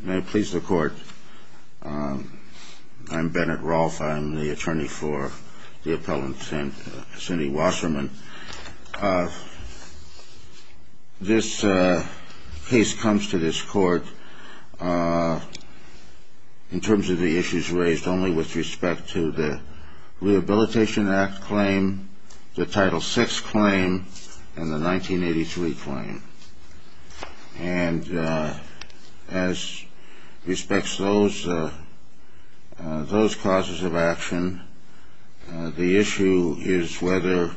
May it please the court. I'm Bennett Rolfe. I'm the attorney for the appellant Cindy Wasserman. This case comes to this court in terms of the issues raised only with respect to the Rehabilitation Act claim, the Title VI claim, and the 1983 claim. And as respects those causes of action, the issue is whether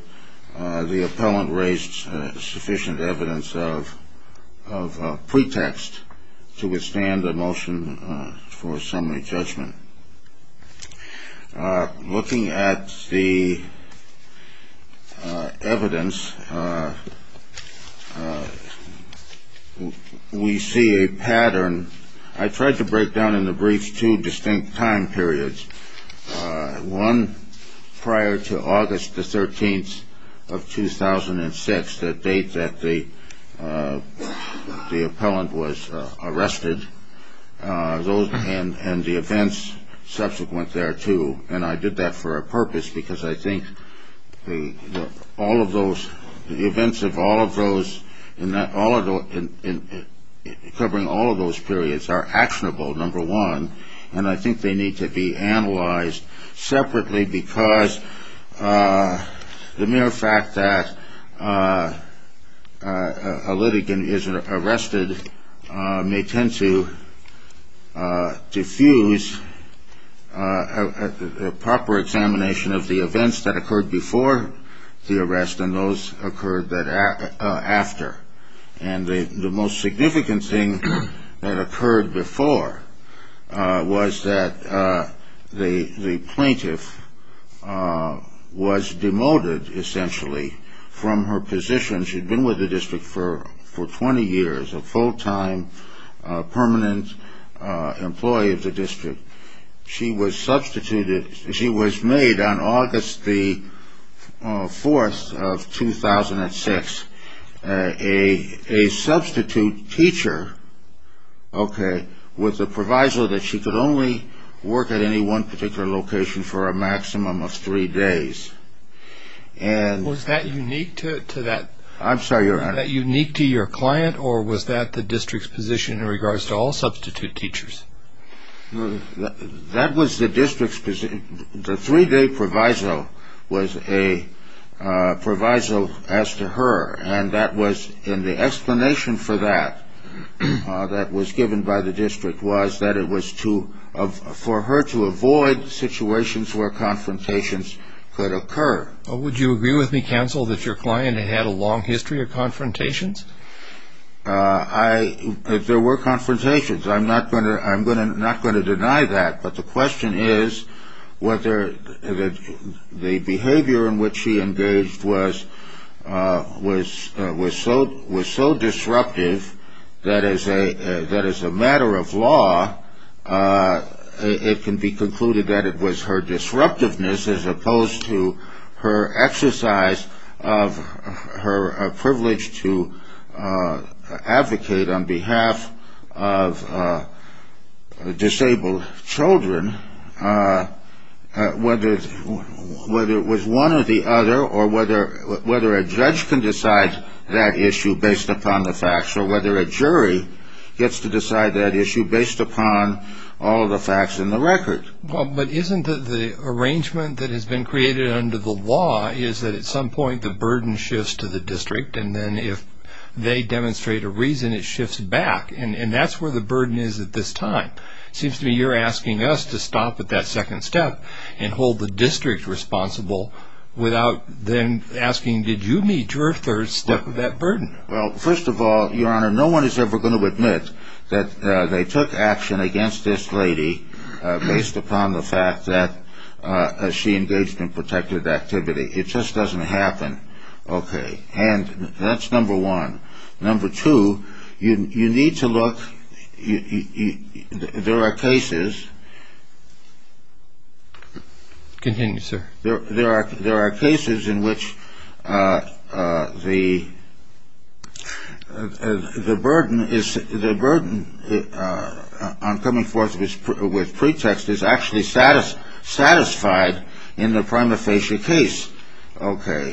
the appellant raised sufficient evidence of pretext to withstand a motion for summary judgment. Looking at the evidence, we see a pattern. I tried to break down in the briefs two distinct time periods. One prior to August the 13th of 2006, the date that the appellant was arrested. And the events subsequent thereto. And I did that for a purpose because I think all of those, the events of all of those, covering all of those periods are actionable, number one. And I think they need to be analyzed separately because the mere fact that a litigant is arrested may tend to diffuse a proper examination of the events that occurred before the arrest and those that occurred after. And the most significant thing that occurred before was that the plaintiff was demoted, essentially, from her position. She had been with the district for 20 years, a full-time permanent employee of the district. She was substituted, she was made on August the 4th of 2006 a substitute teacher, okay, with the proviso that she could only work at any one particular location for a maximum of three days. Was that unique to your client or was that the district's position in regards to all substitute teachers? That was the district's position. The three-day proviso was a proviso as to her. And that was, and the explanation for that that was given by the district was that it was for her to avoid situations where confrontations could occur. Would you agree with me, counsel, that your client had a long history of confrontations? There were confrontations. I'm not going to deny that. But the question is whether the behavior in which she engaged was so disruptive that as a matter of law, it can be concluded that it was her disruptiveness as opposed to her exercise of her privilege to advocate on behalf of disabled children, whether it was one or the other, or whether a judge can decide that issue based upon the facts, or whether a jury gets to decide that issue based upon all the facts in the record. Well, but isn't the arrangement that has been created under the law is that at some point the burden shifts to the district, and then if they demonstrate a reason, it shifts back? And that's where the burden is at this time. Seems to me you're asking us to stop at that second step and hold the district responsible without then asking, did you meet your third step of that burden? Well, first of all, your honor, no one is ever going to admit that they took action against this lady based upon the fact that she engaged in protective activity. It just doesn't happen. Okay. And that's number one. Number two, you need to look. There are cases. There are cases in which the burden on coming forth with pretext is actually satisfied in the prima facie case. Okay.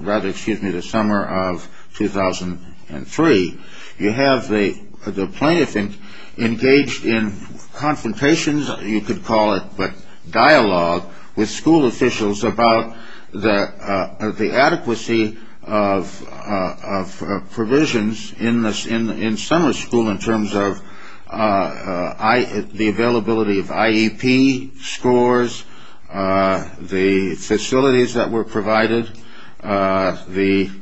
Rather, excuse me, the summer of 2003. You have the plaintiff engaged in confrontations, you could call it, but dialogue with school officials about the adequacy of provisions in summer school in terms of the availability of IEP scores, the facilities that were provided. In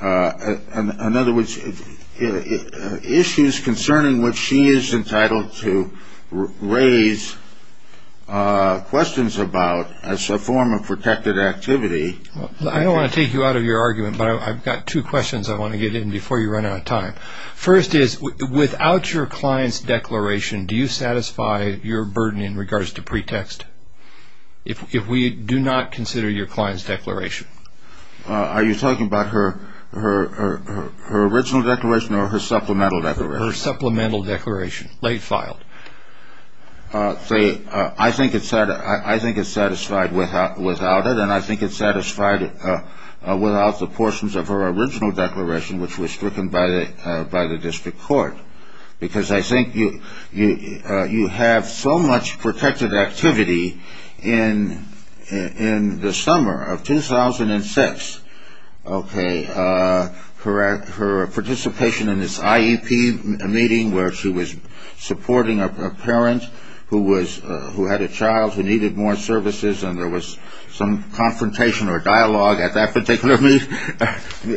other words, issues concerning which she is entitled to raise questions about as a form of protective activity. I don't want to take you out of your argument, but I've got two questions I want to get in before you run out of time. First is, without your client's declaration, do you satisfy your burden in regards to pretext? If we do not consider your client's declaration? Are you talking about her original declaration or her supplemental declaration? Her supplemental declaration, late filed. I think it's satisfied without it. And I think it's satisfied without the portions of her original declaration, which was stricken by the district court. Because I think you have so much protected activity in the summer of 2006. Okay. Her participation in this IEP meeting where she was supporting a parent who had a child who needed more services and there was some confrontation or dialogue at that particular meeting. You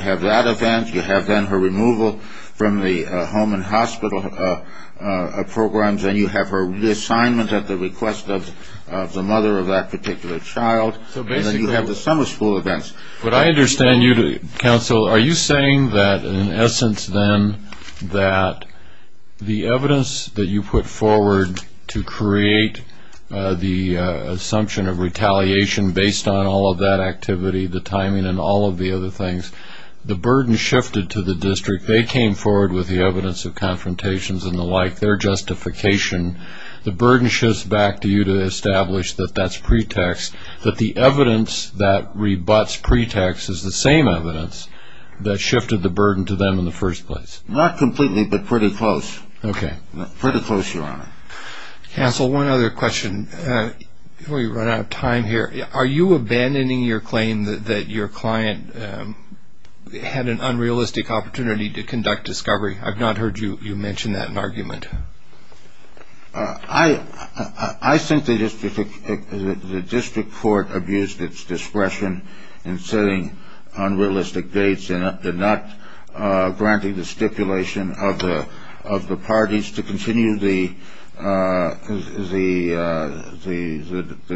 have that event. You have then her removal from the home and hospital programs. And you have her reassignment at the request of the mother of that particular child. And then you have the summer school events. But I understand you, counsel, are you saying that in essence then that the evidence that you put forward to create the assumption of retaliation based on all of that activity, the timing and all of the other things, the burden shifted to the district. They came forward with the evidence of confrontations and the like, their justification. The burden shifts back to you to establish that that's pretext, that the evidence that rebuts pretext is the same evidence that shifted the burden to them in the first place. Not completely, but pretty close. Okay. Pretty close, Your Honor. Counsel, one other question before we run out of time here. Are you abandoning your claim that your client had an unrealistic opportunity to conduct discovery? I've not heard you mention that in argument. I think the district court abused its discretion in setting unrealistic dates and not granting the stipulation of the parties to continue the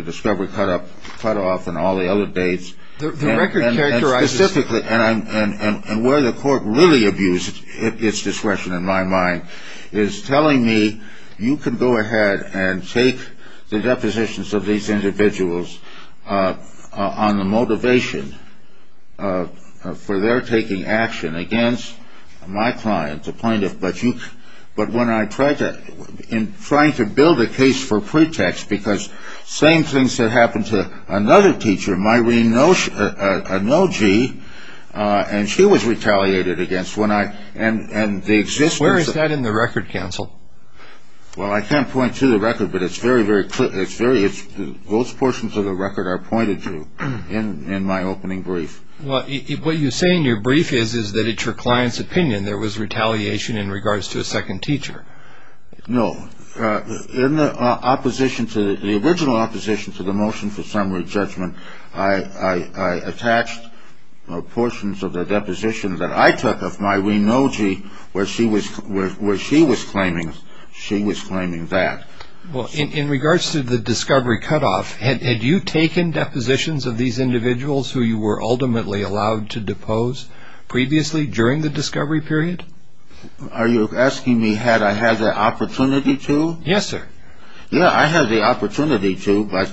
discovery cutoff and all the other dates. And where the court really abused its discretion in my mind is telling me you can go ahead and take the depositions of these individuals on the motivation for their taking action against my client, the plaintiff. But when I tried to build a case for pretext, because same things that happened to another teacher, Myrene Nogi, and she was retaliated against. Where is that in the record, Counsel? Well, I can't point to the record, but it's very, very clear. Those portions of the record are pointed to in my opening brief. Well, what you say in your brief is that it's your client's opinion there was retaliation in regards to a second teacher. No. In the original opposition to the motion for summary judgment, I attached portions of the deposition that I took of Myrene Nogi where she was claiming that. Well, in regards to the discovery cutoff, had you taken depositions of these individuals who you were ultimately allowed to depose previously during the discovery period? Are you asking me had I had the opportunity to? Yes, sir. Yeah, I had the opportunity to, but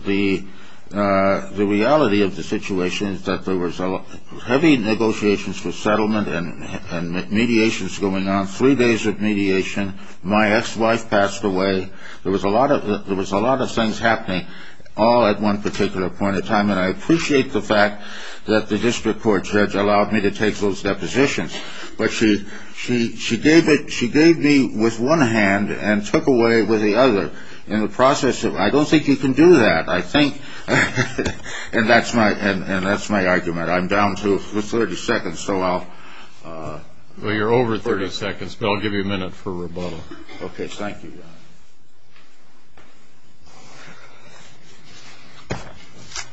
the reality of the situation is that there was heavy negotiations for settlement and mediations going on, three days of mediation. My ex-wife passed away. There was a lot of things happening all at one particular point in time, and I appreciate the fact that the district court judge allowed me to take those depositions. But she gave me with one hand and took away with the other in the process of, I don't think you can do that, I think, and that's my argument. I'm down to 30 seconds, so I'll. Well, you're over 30 seconds, but I'll give you a minute for rebuttal. Okay, thank you, Your Honor.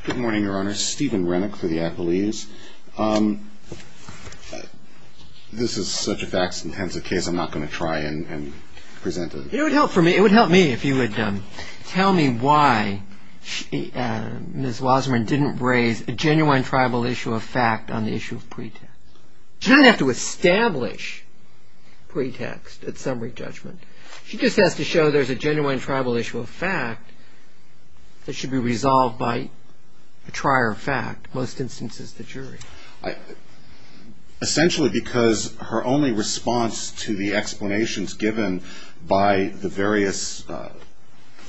Good morning, Your Honor. Stephen Rennick for the Appellees. This is such a facts-intensive case I'm not going to try and present it. It would help me if you would tell me why Ms. Wasserman didn't raise a genuine tribal issue of fact on the issue of pretext. She doesn't have to establish pretext at summary judgment. She just has to show there's a genuine tribal issue of fact that should be resolved by a trier of fact, most instances the jury. Essentially because her only response to the explanations given by the various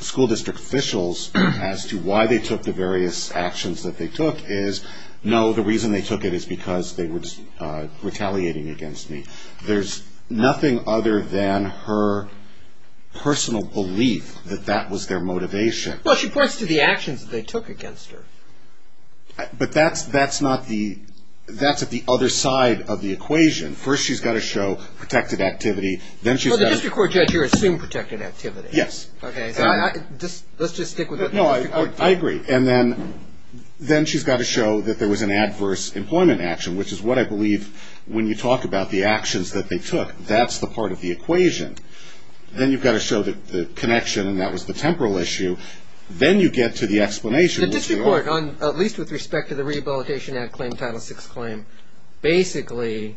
school district officials as to why they took the various actions that they took is, no, the reason they took it is because they were retaliating against me. There's nothing other than her personal belief that that was their motivation. Well, she points to the actions that they took against her. But that's at the other side of the equation. First, she's got to show protected activity. Well, the district court judge here assumed protected activity. Yes. I agree. And then she's got to show that there was an adverse employment action, which is what I believe when you talk about the actions that they took. That's the part of the equation. Then you've got to show the connection and that was the temporal issue. Then you get to the explanation. The district court, at least with respect to the rehabilitation ad claim, Title VI claim, basically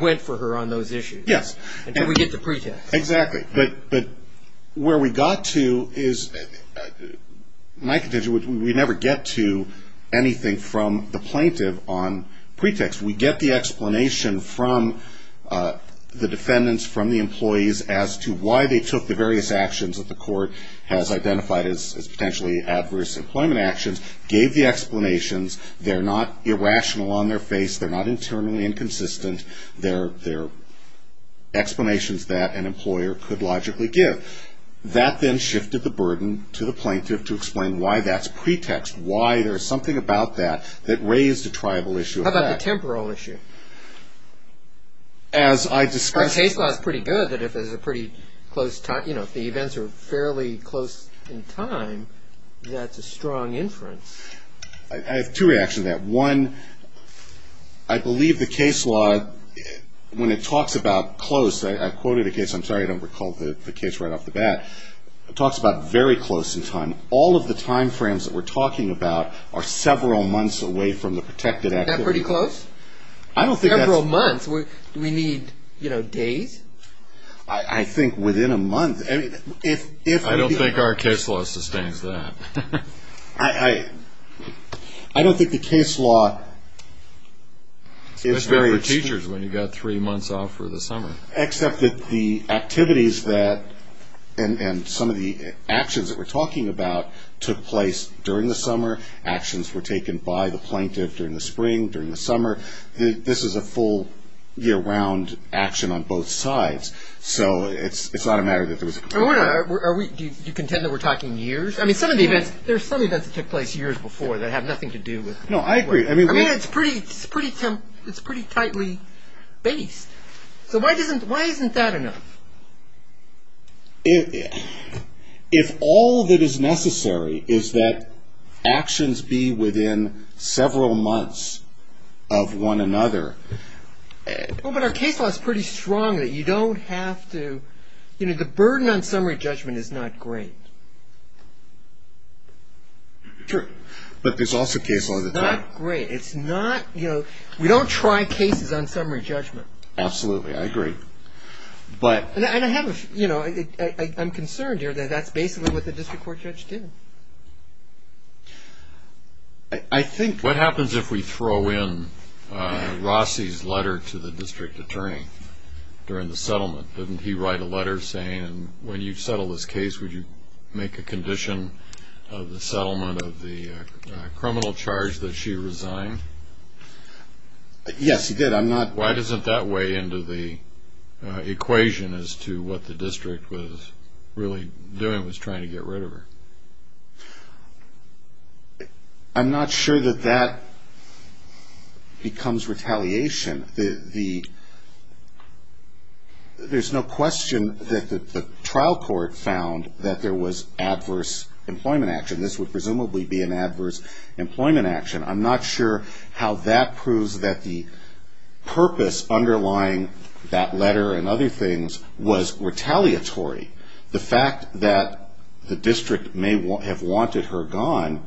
went for her on those issues. Yes. And we get the pretext. Exactly. But where we got to is we never get to anything from the plaintiff on pretext. We get the explanation from the defendants, from the employees as to why they took the various actions that the court has identified as potentially adverse employment actions, gave the explanations. They're not irrational on their face. They're not internally inconsistent. They're explanations that an employer could logically give. That then shifted the burden to the plaintiff to explain why that's pretext, why there's something about that that raised a tribal issue. How about the temporal issue? As I discussed. The case law is pretty good that if there's a pretty close time, you know, if the events are fairly close in time, that's a strong inference. I have two reactions to that. One, I believe the case law, when it talks about close, I quoted a case. I'm sorry I don't recall the case right off the bat. It talks about very close in time. All of the time frames that we're talking about are several months away from the protected activity. That pretty close? I don't think that's. Several months? Do we need, you know, days? I think within a month. I don't think our case law sustains that. I don't think the case law is very. Especially for teachers when you've got three months off for the summer. Except that the activities that and some of the actions that we're talking about took place during the summer. Actions were taken by the plaintiff during the spring, during the summer. This is a full year-round action on both sides. So it's not a matter that there was. Do you contend that we're talking years? I mean, some of the events, there are some events that took place years before that have nothing to do with. No, I agree. I mean, it's pretty tightly based. So why isn't that enough? If all that is necessary is that actions be within several months of one another. Well, but our case law is pretty strong that you don't have to. You know, the burden on summary judgment is not great. True. But there's also case law that's not great. It's not, you know, we don't try cases on summary judgment. Absolutely. I agree. But. And I have a, you know, I'm concerned here that that's basically what the district court judge did. I think. What happens if we throw in Rossi's letter to the district attorney during the settlement? Didn't he write a letter saying when you settle this case, would you make a condition of the settlement of the criminal charge that she resigned? Yes, he did. I'm not. Why doesn't that weigh into the equation as to what the district was really doing was trying to get rid of her? I'm not sure that that becomes retaliation. There's no question that the trial court found that there was adverse employment action. This would presumably be an adverse employment action. I'm not sure how that proves that the purpose underlying that letter and other things was retaliatory. The fact that the district may have wanted her gone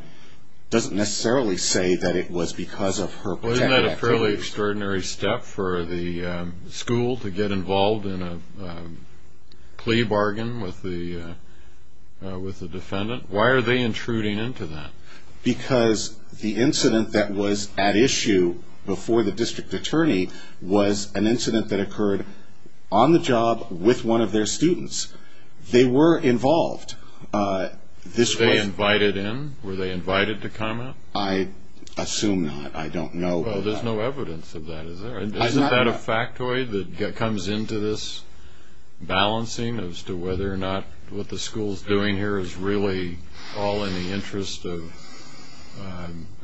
doesn't necessarily say that it was because of her. Wasn't that a fairly extraordinary step for the school to get involved in a plea bargain with the defendant? Why are they intruding into that? Because the incident that was at issue before the district attorney was an incident that occurred on the job with one of their students. They were involved. Were they invited in? Were they invited to come out? I assume not. I don't know. There's no evidence of that, is there? Isn't that a factoid that comes into this balancing as to whether or not what the school's doing here is really all in the interest of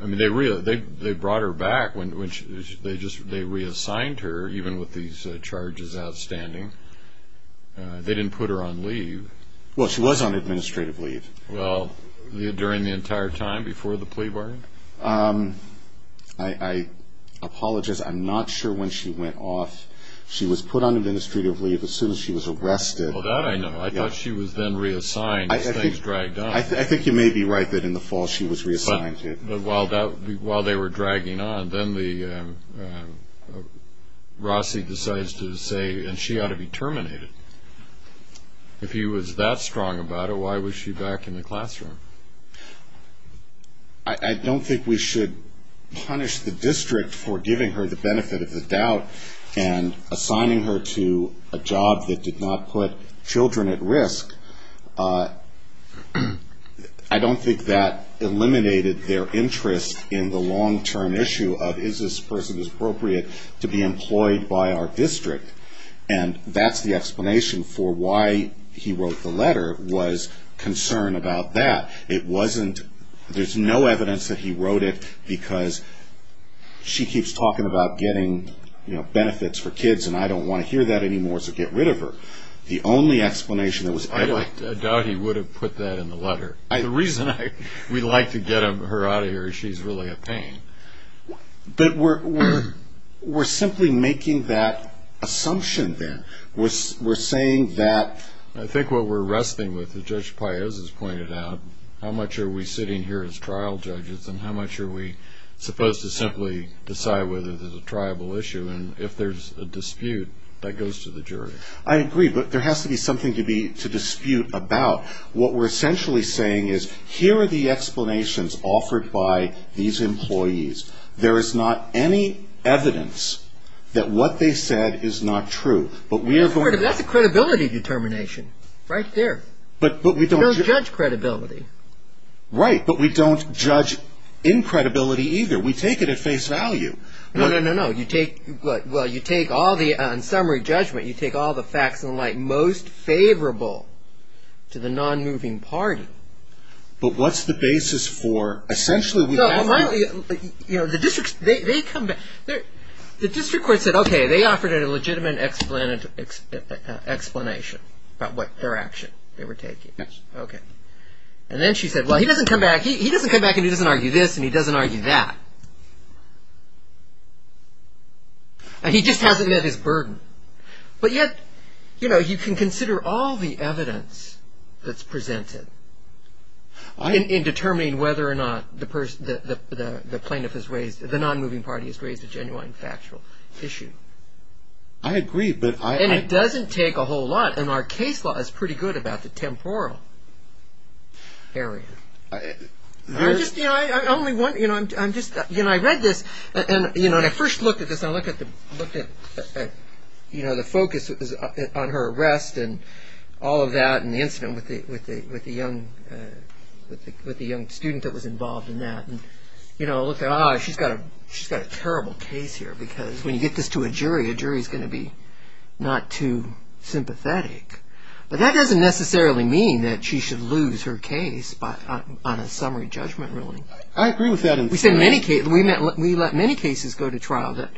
– they brought her back. They reassigned her, even with these charges outstanding. They didn't put her on leave. Well, she was on administrative leave. During the entire time before the plea bargain? I apologize. I'm not sure when she went off. She was put on administrative leave as soon as she was arrested. Well, that I know. I thought she was then reassigned as things dragged on. I think you may be right that in the fall she was reassigned. But while they were dragging on, then Rossi decides to say, and she ought to be terminated. If he was that strong about it, why was she back in the classroom? I don't think we should punish the district for giving her the benefit of the doubt and assigning her to a job that did not put children at risk. I don't think that eliminated their interest in the long-term issue of, is this person appropriate to be employed by our district? And that's the explanation for why he wrote the letter, was concern about that. There's no evidence that he wrote it because she keeps talking about getting benefits for kids, and I don't want to hear that anymore, so get rid of her. The only explanation that was evident. I doubt he would have put that in the letter. The reason we like to get her out of here is she's really a pain. But we're simply making that assumption then. We're saying that. I think what we're wrestling with, as Judge Paez has pointed out, how much are we sitting here as trial judges and how much are we supposed to simply decide whether there's a triable issue? And if there's a dispute, that goes to the jury. I agree, but there has to be something to dispute about. What we're essentially saying is, here are the explanations offered by these employees. There is not any evidence that what they said is not true. That's a credibility determination, right there. You don't judge credibility. Right, but we don't judge in credibility either. We take it at face value. No, no, no, no. You take all the, in summary judgment, you take all the facts in the light most favorable to the non-moving party. But what's the basis for, essentially, we have to... They come back. The district court said, okay, they offered a legitimate explanation about their action they were taking. Okay. And then she said, well, he doesn't come back and he doesn't argue this and he doesn't argue that. And he just hasn't met his burden. But yet, you know, you can consider all the evidence that's presented in determining whether or not the plaintiff has raised, the non-moving party has raised a genuine factual issue. I agree, but I... And it doesn't take a whole lot, and our case law is pretty good about the temporal area. I just, you know, I only want, you know, I'm just, you know, I read this and, you know, when I first looked at this, I looked at, you know, the focus was on her arrest and all of that and the incident with the young student that was involved in that. And, you know, I looked at, ah, she's got a terrible case here because when you get this to a jury, a jury's going to be not too sympathetic. But that doesn't necessarily mean that she should lose her case on a summary judgment ruling. I agree with that. We let many cases go to trial that,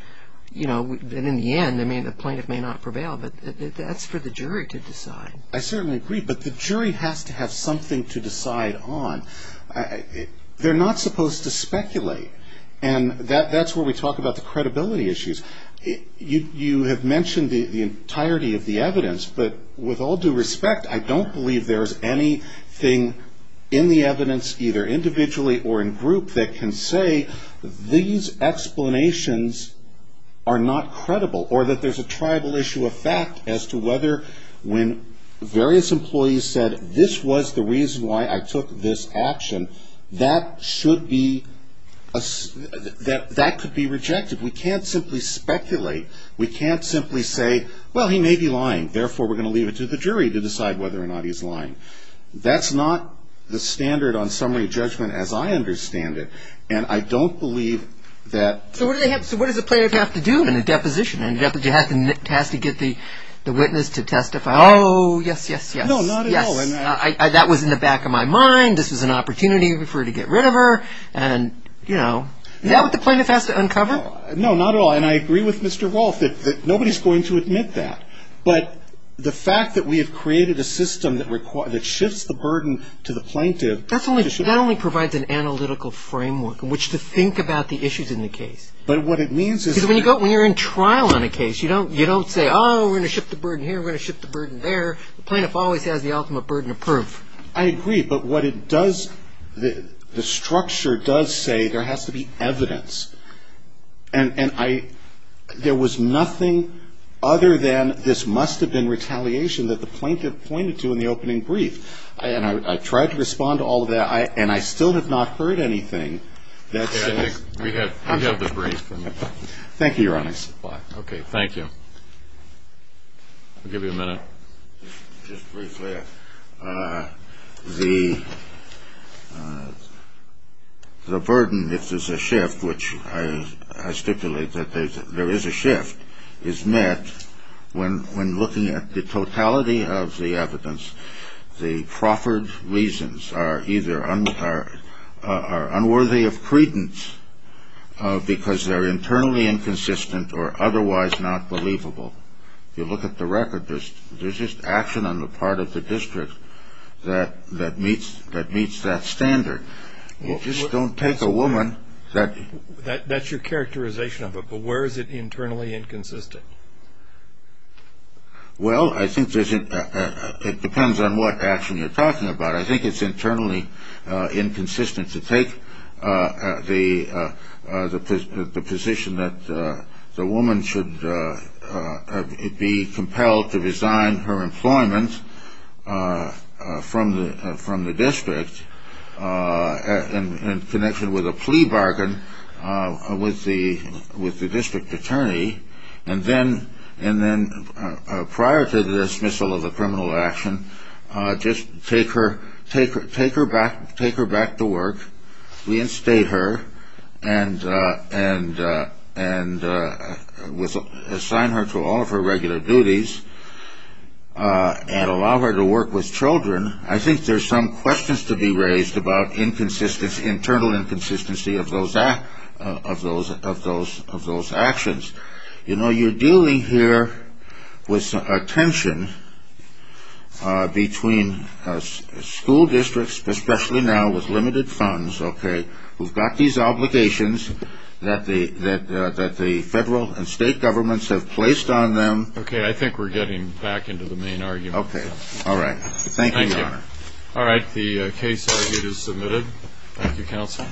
you know, and in the end, the plaintiff may not prevail, but that's for the jury to decide. I certainly agree, but the jury has to have something to decide on. They're not supposed to speculate, and that's where we talk about the credibility issues. You have mentioned the entirety of the evidence, but with all due respect, I don't believe there's anything in the evidence either individually or in group that can say these explanations are not credible or that there's a tribal issue of fact as to whether when various employees said this was the reason why I took this action, that should be, that could be rejected. We can't simply speculate. We can't simply say, well, he may be lying, therefore we're going to leave it to the jury to decide whether or not he's lying. That's not the standard on summary judgment as I understand it, and I don't believe that. So what does the plaintiff have to do in a deposition? You have to get the witness to testify. Oh, yes, yes, yes. No, not at all. Yes, that was in the back of my mind. This was an opportunity for her to get rid of her, and, you know. Is that what the plaintiff has to uncover? No, not at all, and I agree with Mr. Rolfe that nobody's going to admit that, but the fact that we have created a system that shifts the burden to the plaintiff. That only provides an analytical framework in which to think about the issues in the case. But what it means is... Because when you're in trial on a case, you don't say, oh, we're going to shift the burden here, we're going to shift the burden there. The plaintiff always has the ultimate burden of proof. I agree, but what it does... The structure does say there has to be evidence. And I... There was nothing other than this must have been retaliation that the plaintiff pointed to in the opening brief. And I tried to respond to all of that, and I still have not heard anything that says... We have the brief. Thank you, Your Honor. Bye. Okay, thank you. We'll give you a minute. Just briefly, the burden, if there's a shift, which I stipulate that there is a shift, is met when looking at the totality of the evidence, the proffered reasons are either unworthy of credence because they're internally inconsistent or otherwise not believable. If you look at the record, there's just action on the part of the district that meets that standard. You just don't take a woman that... That's your characterization of it, but where is it internally inconsistent? Well, I think it depends on what action you're talking about. I think it's internally inconsistent to take the position that the woman should be compelled to resign her employment from the district in connection with a plea bargain with the district attorney, and then prior to the dismissal of the criminal action, just take her back to work, reinstate her, and assign her to all of her regular duties, and allow her to work with children. I think there's some questions to be raised about internal inconsistency of those actions. You're dealing here with a tension between school districts, especially now with limited funds, who've got these obligations that the federal and state governments have placed on them. Okay, I think we're getting back into the main argument. Okay, all right. Thank you, Your Honor. Thank you. All right, the case argument is submitted. Thank you, Counsel.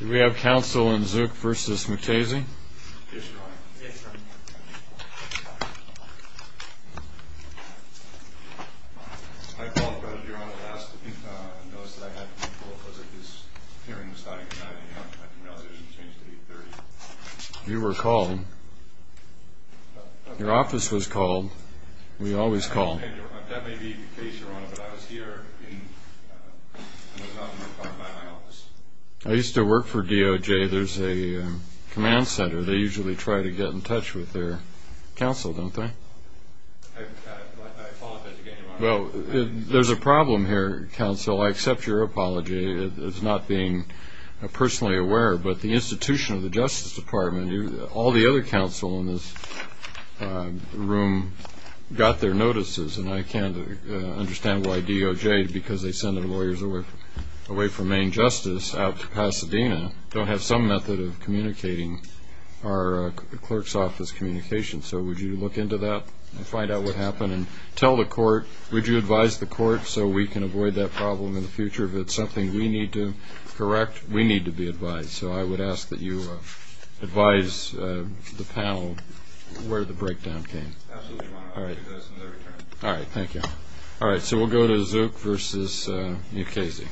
Do we have Counsel in Zook v. McChasey? Yes, Your Honor. I called about a year on the last notice that I had to make a call. It was like this hearing was starting at 9 a.m. I didn't realize it was going to change to 8.30. You were called. Your office was called. We always call. That may be the case, Your Honor, but I was here and was not notified by my office. I used to work for DOJ. There's a command center. They usually try to get in touch with their counsel, don't they? I apologize again, Your Honor. Well, there's a problem here, Counsel. I accept your apology. It's not being personally aware, but the institution of the Justice Department, all the other counsel in this room got their notices, and I can't understand why DOJ, because they send their lawyers away from main justice out to Pasadena, don't have some method of communicating our clerk's office communication. So would you look into that and find out what happened? And tell the court, would you advise the court so we can avoid that problem in the future? If it's something we need to correct, we need to be advised. So I would ask that you advise the panel where the breakdown came. Absolutely, Your Honor. I'll do that as soon as I return. All right. Thank you. All right. So we'll go to Zook v. Nkezi.